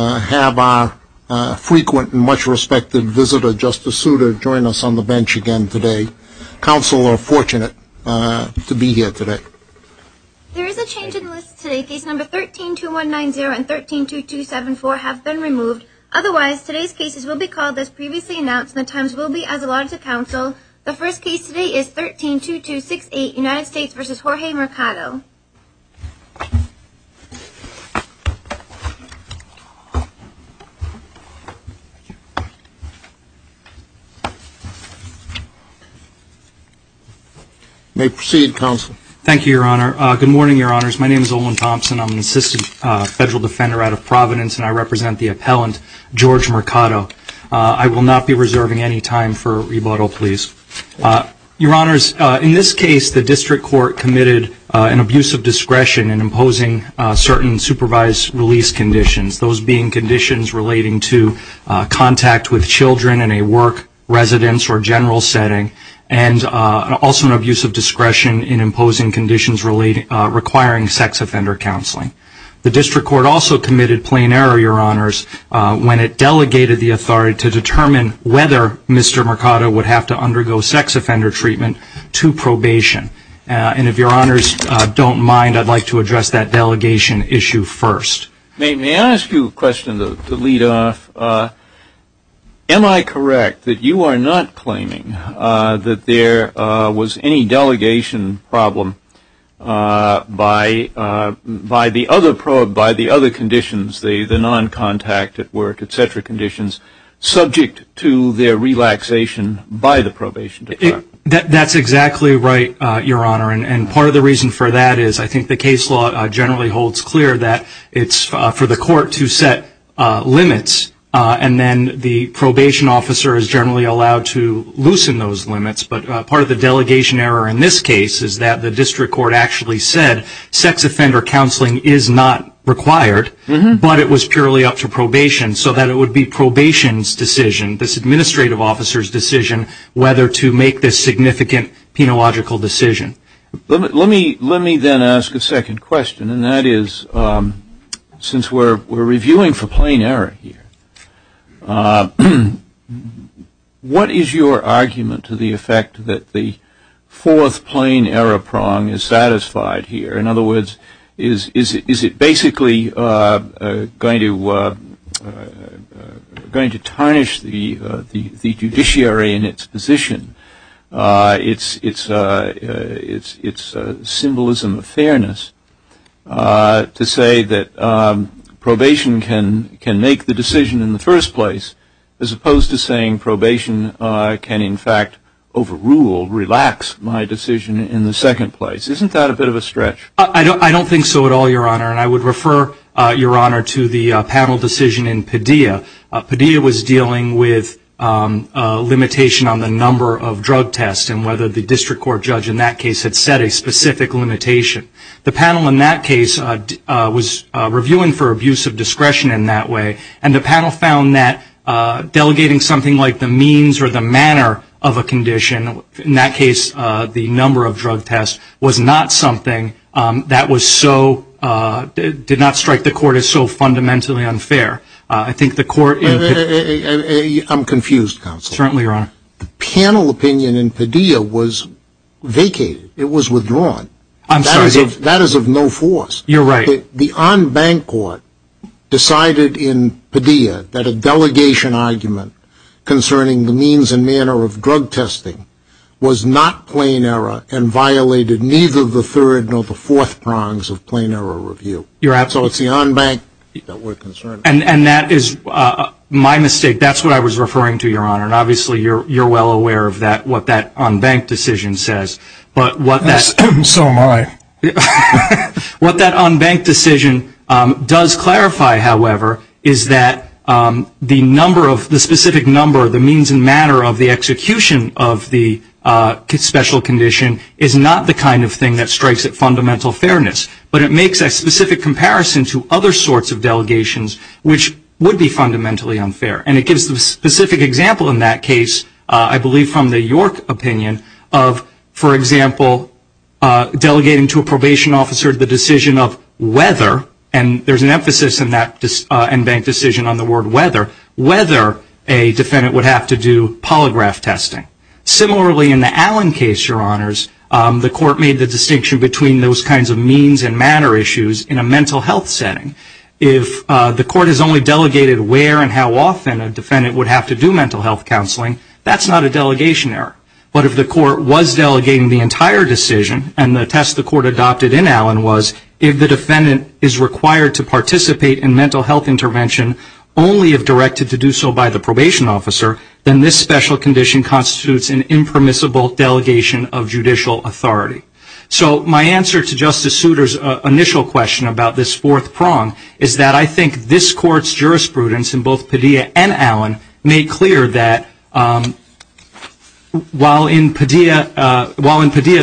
have our frequent and much respected visitor, Justice Souter, join us on the bench again today. Counsel are fortunate to be here today. There is a change in the list today. Cases number 13-2190 and 13-2274 have been removed. Otherwise, today's cases will be called as previously announced and the times will be as allotted to counsel. The first case today is 13-2268, United States v. Jorge Mercado. May proceed, Counsel. Thank you, Your Honor. Good morning, Your Honors. My name is Olan Thompson. I'm an assistant federal defender out of Providence, and I represent the appellant, Jorge Mercado. I will not be reserving any time for rebuttal, please. Your Honors, in this case, the district court committed an abuse of discretion in imposing certain supervised release conditions, those being conditions relating to contact with children in a work, residence, or general setting, and also an abuse of discretion in imposing conditions requiring sex offender counseling. The district court also committed plain error, Your Honors, when it delegated the authority to determine whether Mr. Mercado would have to undergo sex offender treatment to probation. And if Your Honors don't mind, I'd like to address that delegation issue first. May I ask you a question to lead off? Am I correct that you are not claiming that there was any delegation problem by the other conditions, the non-contact at work, et cetera, conditions, subject to their relaxation by the probation department? That's exactly right, Your Honor. And part of the reason for that is I think the case law generally holds clear that it's for the court to set limits, and then the probation officer is generally allowed to loosen those limits. But part of the delegation error in this case is that the district court actually said sex offender counseling is not required, but it was purely up to probation, so that it would be probation's decision, this administrative officer's decision, whether to make this significant penological decision. Let me then ask a second question, and that is since we're reviewing for plain error here, what is your argument to the effect that the fourth plain error prong is satisfied here? In other words, is it basically going to tarnish the judiciary in its position, its symbolism of fairness to say that probation can make the decision in the first place, as opposed to saying probation can, in fact, overrule, relax my decision in the second place? Isn't that a bit of a stretch? I don't think so at all, Your Honor, and I would refer, Your Honor, to the panel decision in Padilla. Padilla was dealing with limitation on the number of drug tests and whether the district court judge in that case had set a specific limitation. The panel in that case was reviewing for abuse of discretion in that way, and the panel found that delegating something like the means or the manner of a condition, in that case the number of drug tests, was not something that was so, did not strike the court as so fundamentally unfair. I think the court in- I'm confused, Counselor. Certainly, Your Honor. The panel opinion in Padilla was vacated. It was withdrawn. I'm sorry. That is of no force. You're right. The en banc court decided in Padilla that a delegation argument concerning the means and manner of drug testing was not plain error and violated neither the third nor the fourth prongs of plain error review. You're absolutely right. So it's the en banc that we're concerned about. And that is my mistake. That's what I was referring to, Your Honor, and obviously you're well aware of what that en banc decision says, but what that- So am I. What that en banc decision does clarify, however, is that the specific number of the means and manner of the execution of the special condition is not the kind of thing that strikes at fundamental fairness, but it makes a specific comparison to other sorts of delegations, which would be fundamentally unfair. And it gives the specific example in that case, I believe from the York opinion, of, for example, delegating to a probation officer the decision of whether, and there's an emphasis in that en banc decision on the word whether, whether a defendant would have to do polygraph testing. Similarly, in the Allen case, Your Honors, the court made the distinction between those kinds of means and manner issues in a mental health setting. If the court has only delegated where and how often a defendant would have to do mental health counseling, that's not a delegation error. But if the court was delegating the entire decision and the test the court adopted in Allen was if the defendant is required to participate in mental health intervention only if directed to do so by the probation officer, then this special condition constitutes an impermissible delegation of judicial authority. So my answer to Justice Souter's initial question about this fourth prong is that I think this court's jurisprudence in both Padilla and Allen made clear that while in Padilla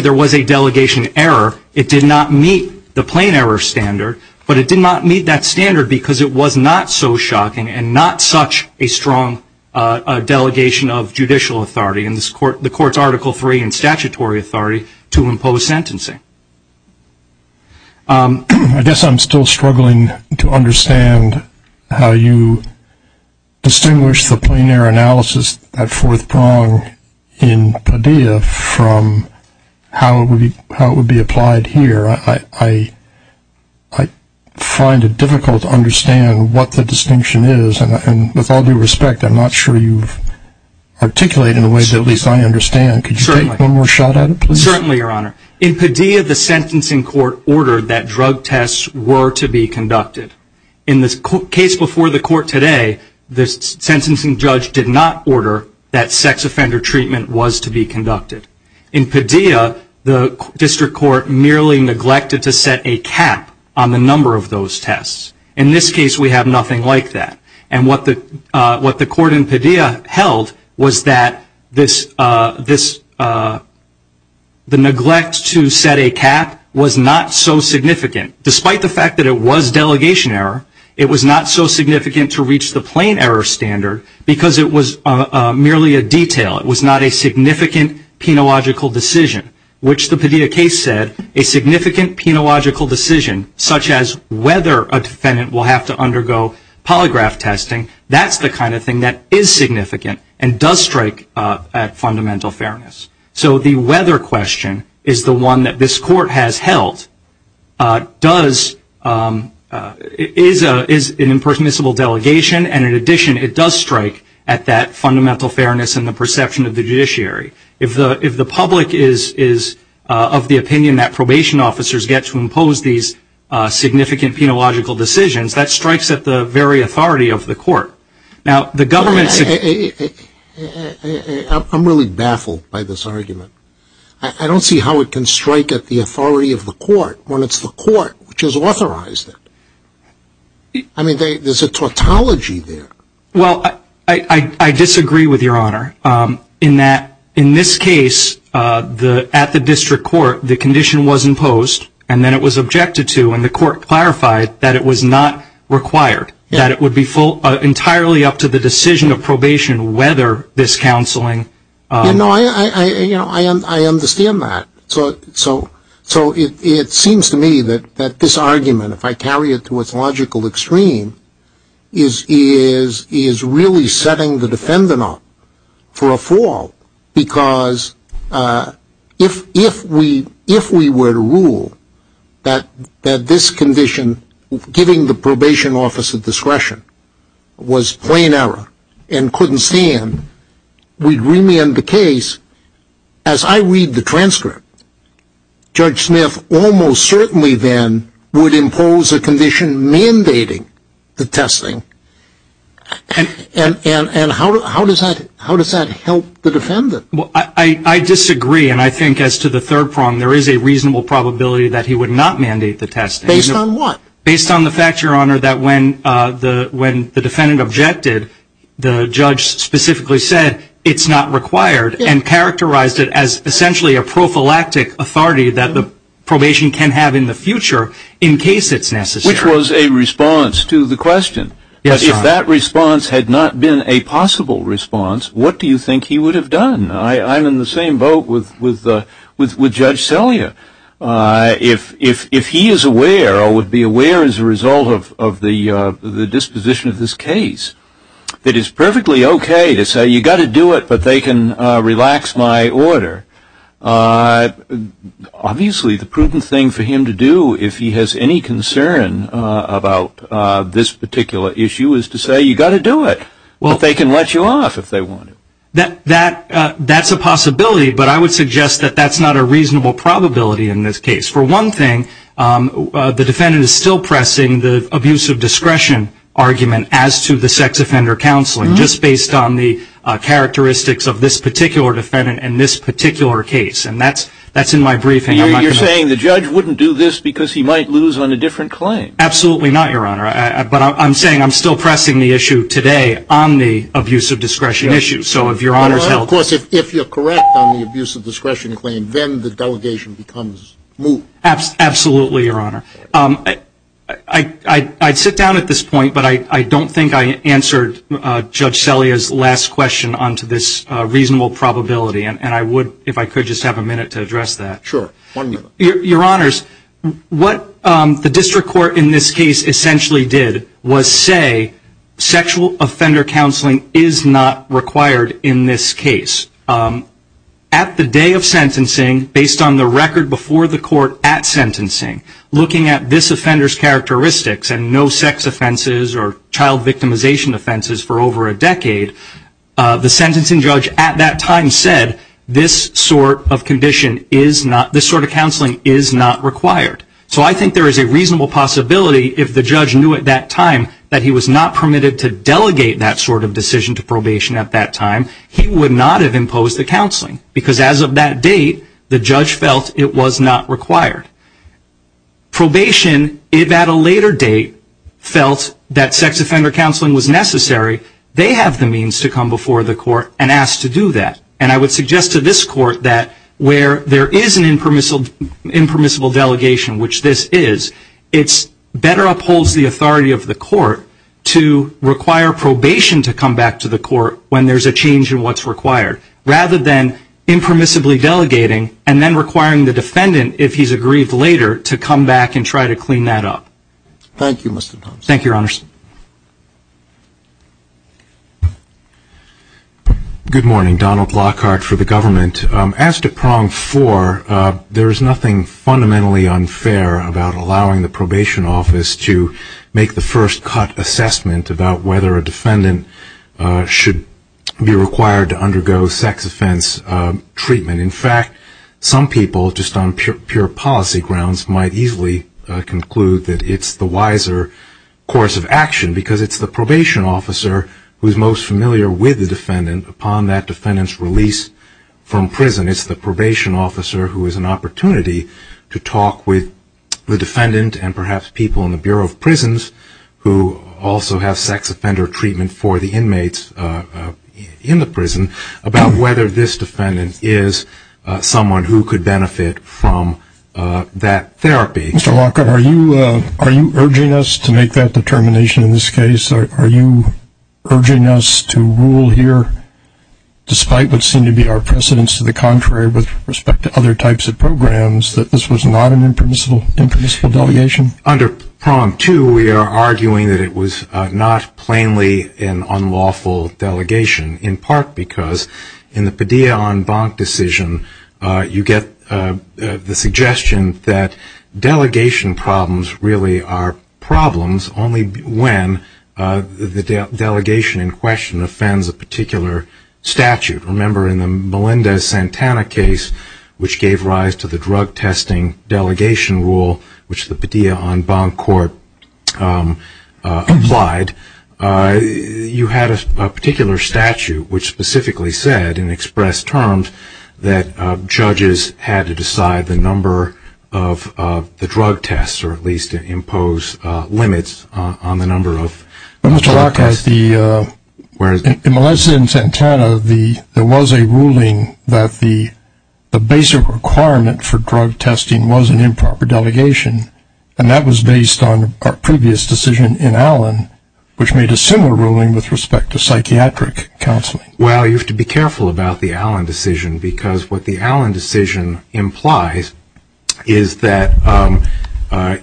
there was a delegation error, it did not meet the plain error standard, but it did not meet that standard because it was not so shocking and not such a strong delegation of judicial authority in the court's Article III and statutory authority to impose sentencing. I guess I'm still struggling to understand how you distinguish the plain error analysis at fourth prong in Padilla from how it would be applied here. I find it difficult to understand what the distinction is, and with all due respect I'm not sure you've articulated in a way that at least I understand. Could you take one more shot at it, please? Certainly, Your Honor. In Padilla, the sentencing court ordered that drug tests were to be conducted. In the case before the court today, the sentencing judge did not order that sex offender treatment was to be conducted. In Padilla, the district court merely neglected to set a cap on the number of those tests. In this case, we have nothing like that. And what the court in Padilla held was that the neglect to set a cap was not so significant. Despite the fact that it was delegation error, it was not so significant to reach the plain error standard because it was merely a detail. It was not a significant penological decision, which the Padilla case said, a significant penological decision such as whether a defendant will have to undergo polygraph testing, that's the kind of thing that is significant and does strike at fundamental fairness. So the whether question is the one that this court has held, is an impermissible delegation, and in addition, it does strike at that fundamental fairness in the perception of the judiciary. If the public is of the opinion that probation officers get to impose these significant penological decisions, that strikes at the very authority of the court. Now, the government... I'm really baffled by this argument. I don't see how it can strike at the authority of the court when it's the court which has authorized it. I mean, there's a tautology there. Well, I disagree with your honor in that in this case, at the district court, the condition was imposed, and then it was objected to, and the court clarified that it was not required, that it would be entirely up to the decision of probation whether this counseling... You know, I understand that. So it seems to me that this argument, if I carry it to its logical extreme, is really setting the defendant up for a fall because if we were to rule that this condition, giving the probation officer discretion, was plain error and couldn't stand, we'd remand the case. As I read the transcript, Judge Smith almost certainly then would impose a condition mandating the testing. And how does that help the defendant? Well, I disagree, and I think as to the third prong, there is a reasonable probability that he would not mandate the testing. Based on what? Based on the fact, Your Honor, that when the defendant objected, the judge specifically said it's not required and characterized it as essentially a prophylactic authority that the probation can have in the future in case it's necessary. Which was a response to the question. Yes, Your Honor. If that response had not been a possible response, what do you think he would have done? I'm in the same boat with Judge Celia. If he is aware or would be aware as a result of the disposition of this case, it is perfectly okay to say you've got to do it, but they can relax my order. Obviously, the prudent thing for him to do if he has any concern about this particular issue is to say you've got to do it. But they can let you off if they want to. That's a possibility, but I would suggest that that's not a reasonable probability in this case. For one thing, the defendant is still pressing the abuse of discretion argument as to the sex offender counseling, just based on the characteristics of this particular defendant and this particular case. And that's in my briefing. You're saying the judge wouldn't do this because he might lose on a different claim. Absolutely not, Your Honor. But I'm saying I'm still pressing the issue today on the abuse of discretion issue. Of course, if you're correct on the abuse of discretion claim, then the delegation becomes moot. Absolutely, Your Honor. I'd sit down at this point, but I don't think I answered Judge Celia's last question on to this reasonable probability, and I would, if I could, just have a minute to address that. Sure, one minute. Your Honors, what the district court in this case essentially did was say sexual offender counseling is not required in this case. At the day of sentencing, based on the record before the court at sentencing, looking at this offender's characteristics and no sex offenses or child victimization offenses for over a decade, the sentencing judge at that time said this sort of counseling is not required. So I think there is a reasonable possibility if the judge knew at that time that he was not permitted to delegate that sort of decision to probation at that time, he would not have imposed the counseling. Because as of that date, the judge felt it was not required. Probation, if at a later date felt that sex offender counseling was necessary, they have the means to come before the court and ask to do that. And I would suggest to this court that where there is an impermissible delegation, which this is, it better upholds the authority of the court to require probation to come back to the court when there's a change in what's required, rather than impermissibly delegating and then requiring the defendant, if he's aggrieved later, to come back and try to clean that up. Thank you, Mr. Thompson. Thank you, Your Honors. Good morning. Donald Lockhart for the government. As to prong four, there is nothing fundamentally unfair about allowing the probation office to make the first cut assessment about whether a defendant should be required to undergo sex offense treatment. In fact, some people, just on pure policy grounds, might easily conclude that it's the wiser course of action because it's the probation officer who's most familiar with the defendant upon that defendant's release from prison. It's the probation officer who has an opportunity to talk with the defendant and perhaps people in the Bureau of Prisons who also have sex offender treatment for the inmates in the prison about whether this defendant is someone who could benefit from that therapy. Mr. Lockhart, are you urging us to make that determination in this case? Are you urging us to rule here, despite what seemed to be our precedence to the contrary with respect to other types of programs, that this was not an impermissible delegation? Under prong two, we are arguing that it was not plainly an unlawful delegation, in part because in the Padilla on Bonk decision, you get the suggestion that delegation problems really are problems only when the delegation in question offends a particular statute. Remember in the Melendez-Santana case, which gave rise to the drug testing delegation rule, which the Padilla on Bonk court applied, you had a particular statute which specifically said and expressed terms that judges had to decide the number of the drug tests, or at least impose limits on the number of drug tests. In Melendez-Santana, there was a ruling that the basic requirement for drug testing was an improper delegation, and that was based on our previous decision in Allen, which made a similar ruling with respect to psychiatric counseling. Well, you have to be careful about the Allen decision, because what the Allen decision implies is that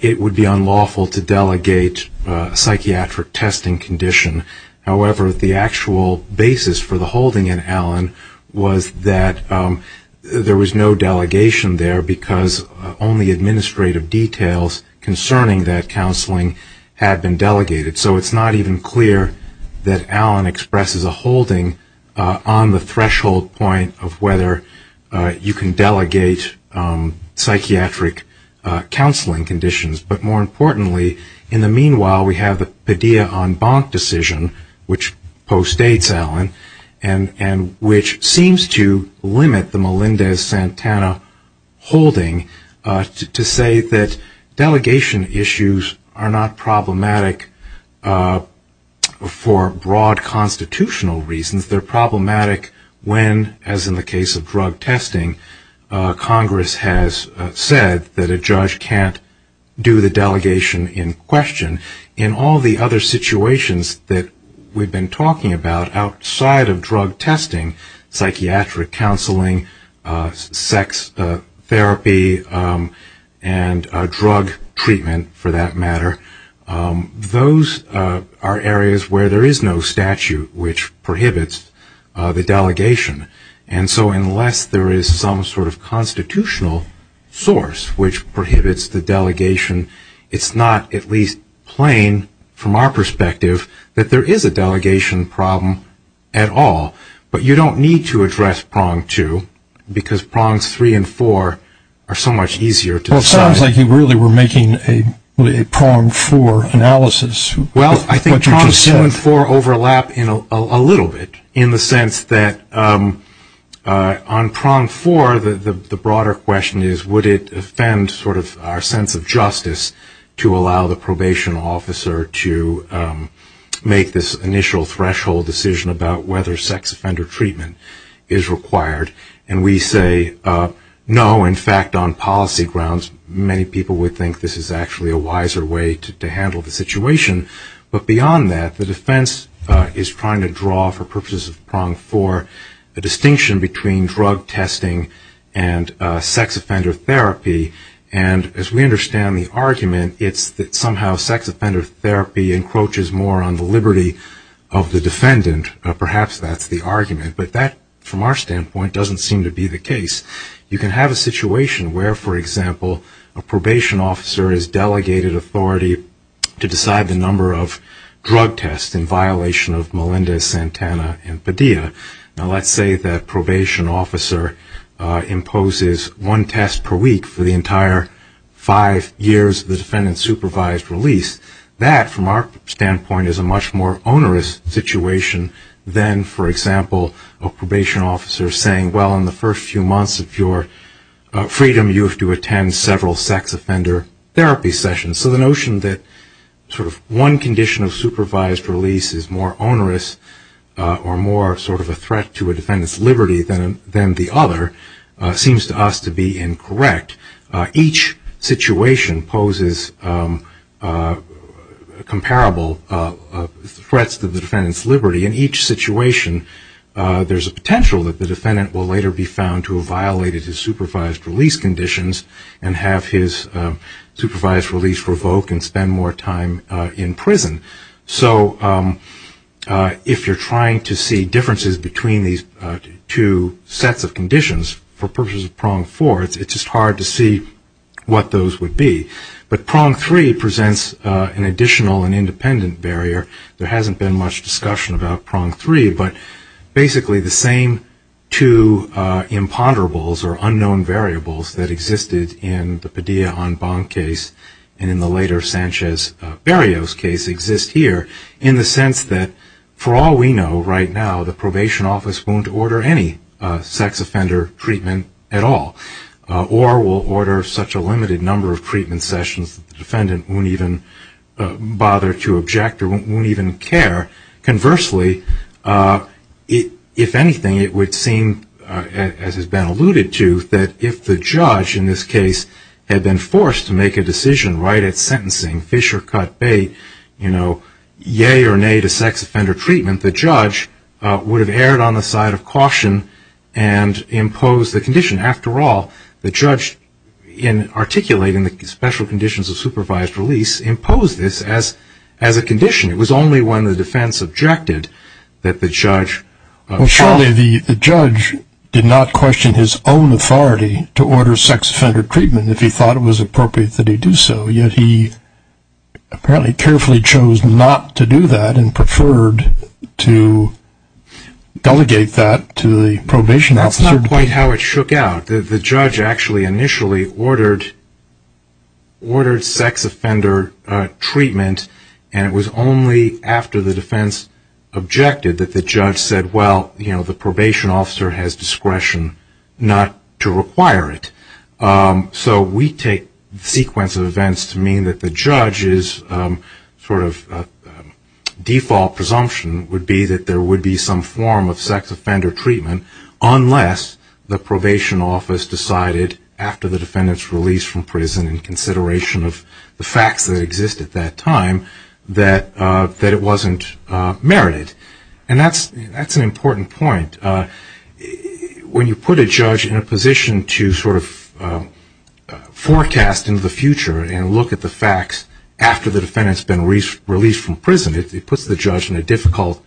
it would be unlawful to delegate a psychiatric testing condition. However, the actual basis for the holding in Allen was that there was no delegation there, because only administrative details concerning that counseling had been delegated. So it's not even clear that Allen expresses a holding on the threshold point of whether you can delegate psychiatric counseling conditions. But more importantly, in the meanwhile, we have the Padilla on Bonk decision, which postdates Allen, and which seems to limit the Melendez-Santana holding, to say that delegation issues are not problematic for broad constitutional reasons. They're problematic when, as in the case of drug testing, Congress has said that a judge can't do the delegation in question. In all the other situations that we've been talking about outside of drug testing, psychiatric counseling, sex therapy, and drug treatment, for that matter, those are areas where there is no statute which prohibits the delegation. And so unless there is some sort of constitutional source which prohibits the delegation, it's not at least plain from our perspective that there is a delegation problem at all. But you don't need to address prong two, because prongs three and four are so much easier to decide. Well, it sounds like you really were making a prong four analysis. Well, I think prongs two and four overlap a little bit, in the sense that on prong four, the broader question is would it offend sort of our sense of justice to allow the probation officer to make this initial threshold decision about whether sex offender treatment is required. And we say no. In fact, on policy grounds, many people would think this is actually a wiser way to handle the situation. But beyond that, the defense is trying to draw, for purposes of prong four, a distinction between drug testing and sex offender therapy. And as we understand the argument, it's that somehow sex offender therapy encroaches more on the liberty of the defendant. Perhaps that's the argument. But that, from our standpoint, doesn't seem to be the case. You can have a situation where, for example, a probation officer has delegated authority to decide the number of drug tests in violation of Melinda, Santana, and Padilla. Now, let's say that probation officer imposes one test per week for the entire five years of the defendant's supervised release. That, from our standpoint, is a much more onerous situation than, for example, a probation officer saying, well, in the first few months of your freedom, you have to attend several sex offender therapy sessions. So the notion that sort of one condition of supervised release is more onerous or more sort of a threat to a defendant's liberty than the other seems to us to be incorrect. Each situation poses comparable threats to the defendant's liberty. In each situation, there's a potential that the defendant will later be found to have violated his supervised release conditions and have his supervised release revoked and spend more time in prison. So if you're trying to see differences between these two sets of conditions for purposes of prong four, it's just hard to see what those would be. But prong three presents an additional and independent barrier. There hasn't been much discussion about prong three, but basically the same two imponderables or unknown variables that existed in the Padilla-On-Bond case and in the later Sanchez-Barrios case exist here in the sense that, for all we know right now, the probation office won't order any sex offender treatment at all or will order such a limited number of treatment sessions that the defendant won't even bother to object or won't even care. Conversely, if anything, it would seem, as has been alluded to, that if the judge in this case had been forced to make a decision right at sentencing, fish or cut, bait, you know, yay or nay to sex offender treatment, the judge would have erred on the side of caution and imposed the condition. After all, the judge, in articulating the special conditions of supervised release, imposed this as a condition. It was only when the defense objected that the judge… Well, surely the judge did not question his own authority to order sex offender treatment if he thought it was appropriate that he do so, yet he apparently carefully chose not to do that and preferred to delegate that to the probation officer. That's not quite how it shook out. The judge actually initially ordered sex offender treatment and it was only after the defense objected that the judge said, well, you know, the probation officer has discretion not to require it. So we take the sequence of events to mean that the judge's sort of default presumption would be that there would be some form of sex offender treatment unless the probation office decided after the defendant's release from prison in consideration of the facts that exist at that time that it wasn't merited. And that's an important point. When you put a judge in a position to sort of forecast into the future and look at the facts after the defendant's been released from prison, it puts the judge in a difficult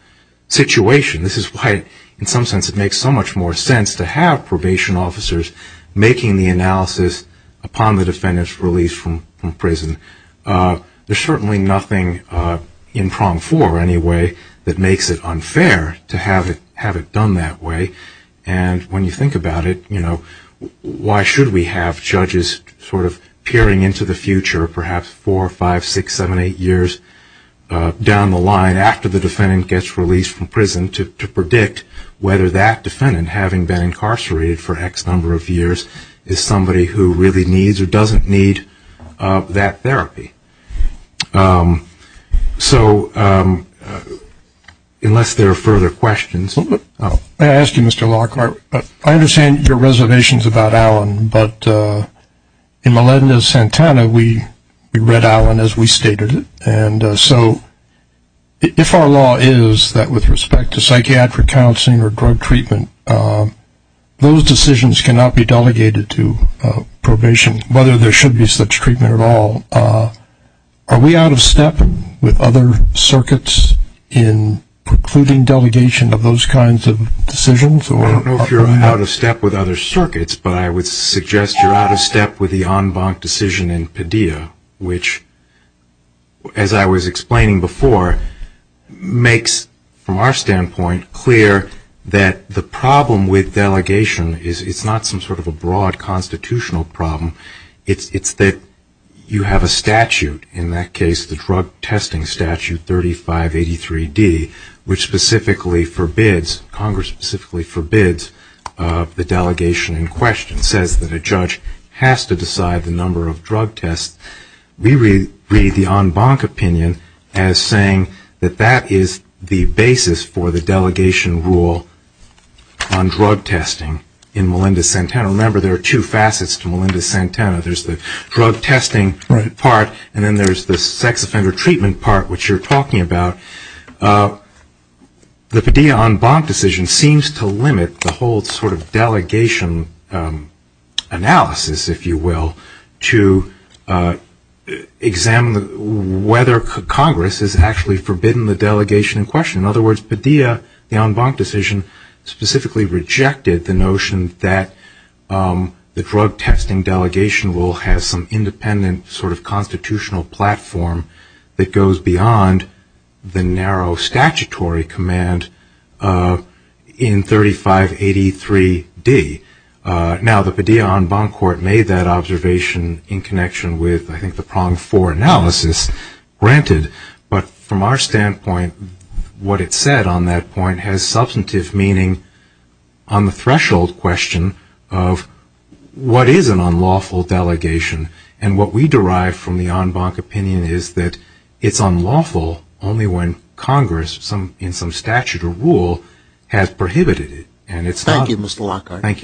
situation. This is why, in some sense, it makes so much more sense to have probation officers making the analysis upon the defendant's release from prison. There's certainly nothing in prong four anyway that makes it unfair to have it done that way. And when you think about it, you know, why should we have judges sort of peering into the future, perhaps four or five, six, seven, eight years down the line after the defendant gets released from prison to predict whether that defendant, having been incarcerated for X number of years, is somebody who really needs or doesn't need that therapy. So unless there are further questions. May I ask you, Mr. Lockhart, I understand your reservations about Allen, but in Melendez-Santana we read Allen as we stated it, and so if our law is that with respect to psychiatric counseling or drug treatment, those decisions cannot be delegated to probation, whether there should be such treatment at all. Are we out of step with other circuits in precluding delegation of those kinds of decisions? So I don't know if you're out of step with other circuits, but I would suggest you're out of step with the en banc decision in Padilla, which, as I was explaining before, makes, from our standpoint, clear that the problem with delegation is it's not some sort of a broad constitutional problem. It's that you have a statute, in that case the Drug Testing Statute 3583D, which specifically forbids, Congress specifically forbids the delegation in question, says that a judge has to decide the number of drug tests. We read the en banc opinion as saying that that is the basis for the delegation rule on drug testing in Melendez-Santana. Remember, there are two facets to Melendez-Santana. There's the drug testing part, and then there's the sex offender treatment part, which you're talking about. The Padilla en banc decision seems to limit the whole sort of delegation analysis, if you will, to examine whether Congress has actually forbidden the delegation in question. In other words, Padilla, the en banc decision, specifically rejected the notion that the drug testing delegation rule has some independent sort of constitutional platform that goes beyond the narrow statutory command in 3583D. Now, the Padilla en banc court made that observation in connection with, I think, the prong four analysis, granted. But from our standpoint, what it said on that point has substantive meaning on the threshold question of what is an unlawful delegation. And what we derive from the en banc opinion is that it's unlawful only when Congress, in some statute or rule, has prohibited it. Thank you, Mr. Lockhart. Thank you.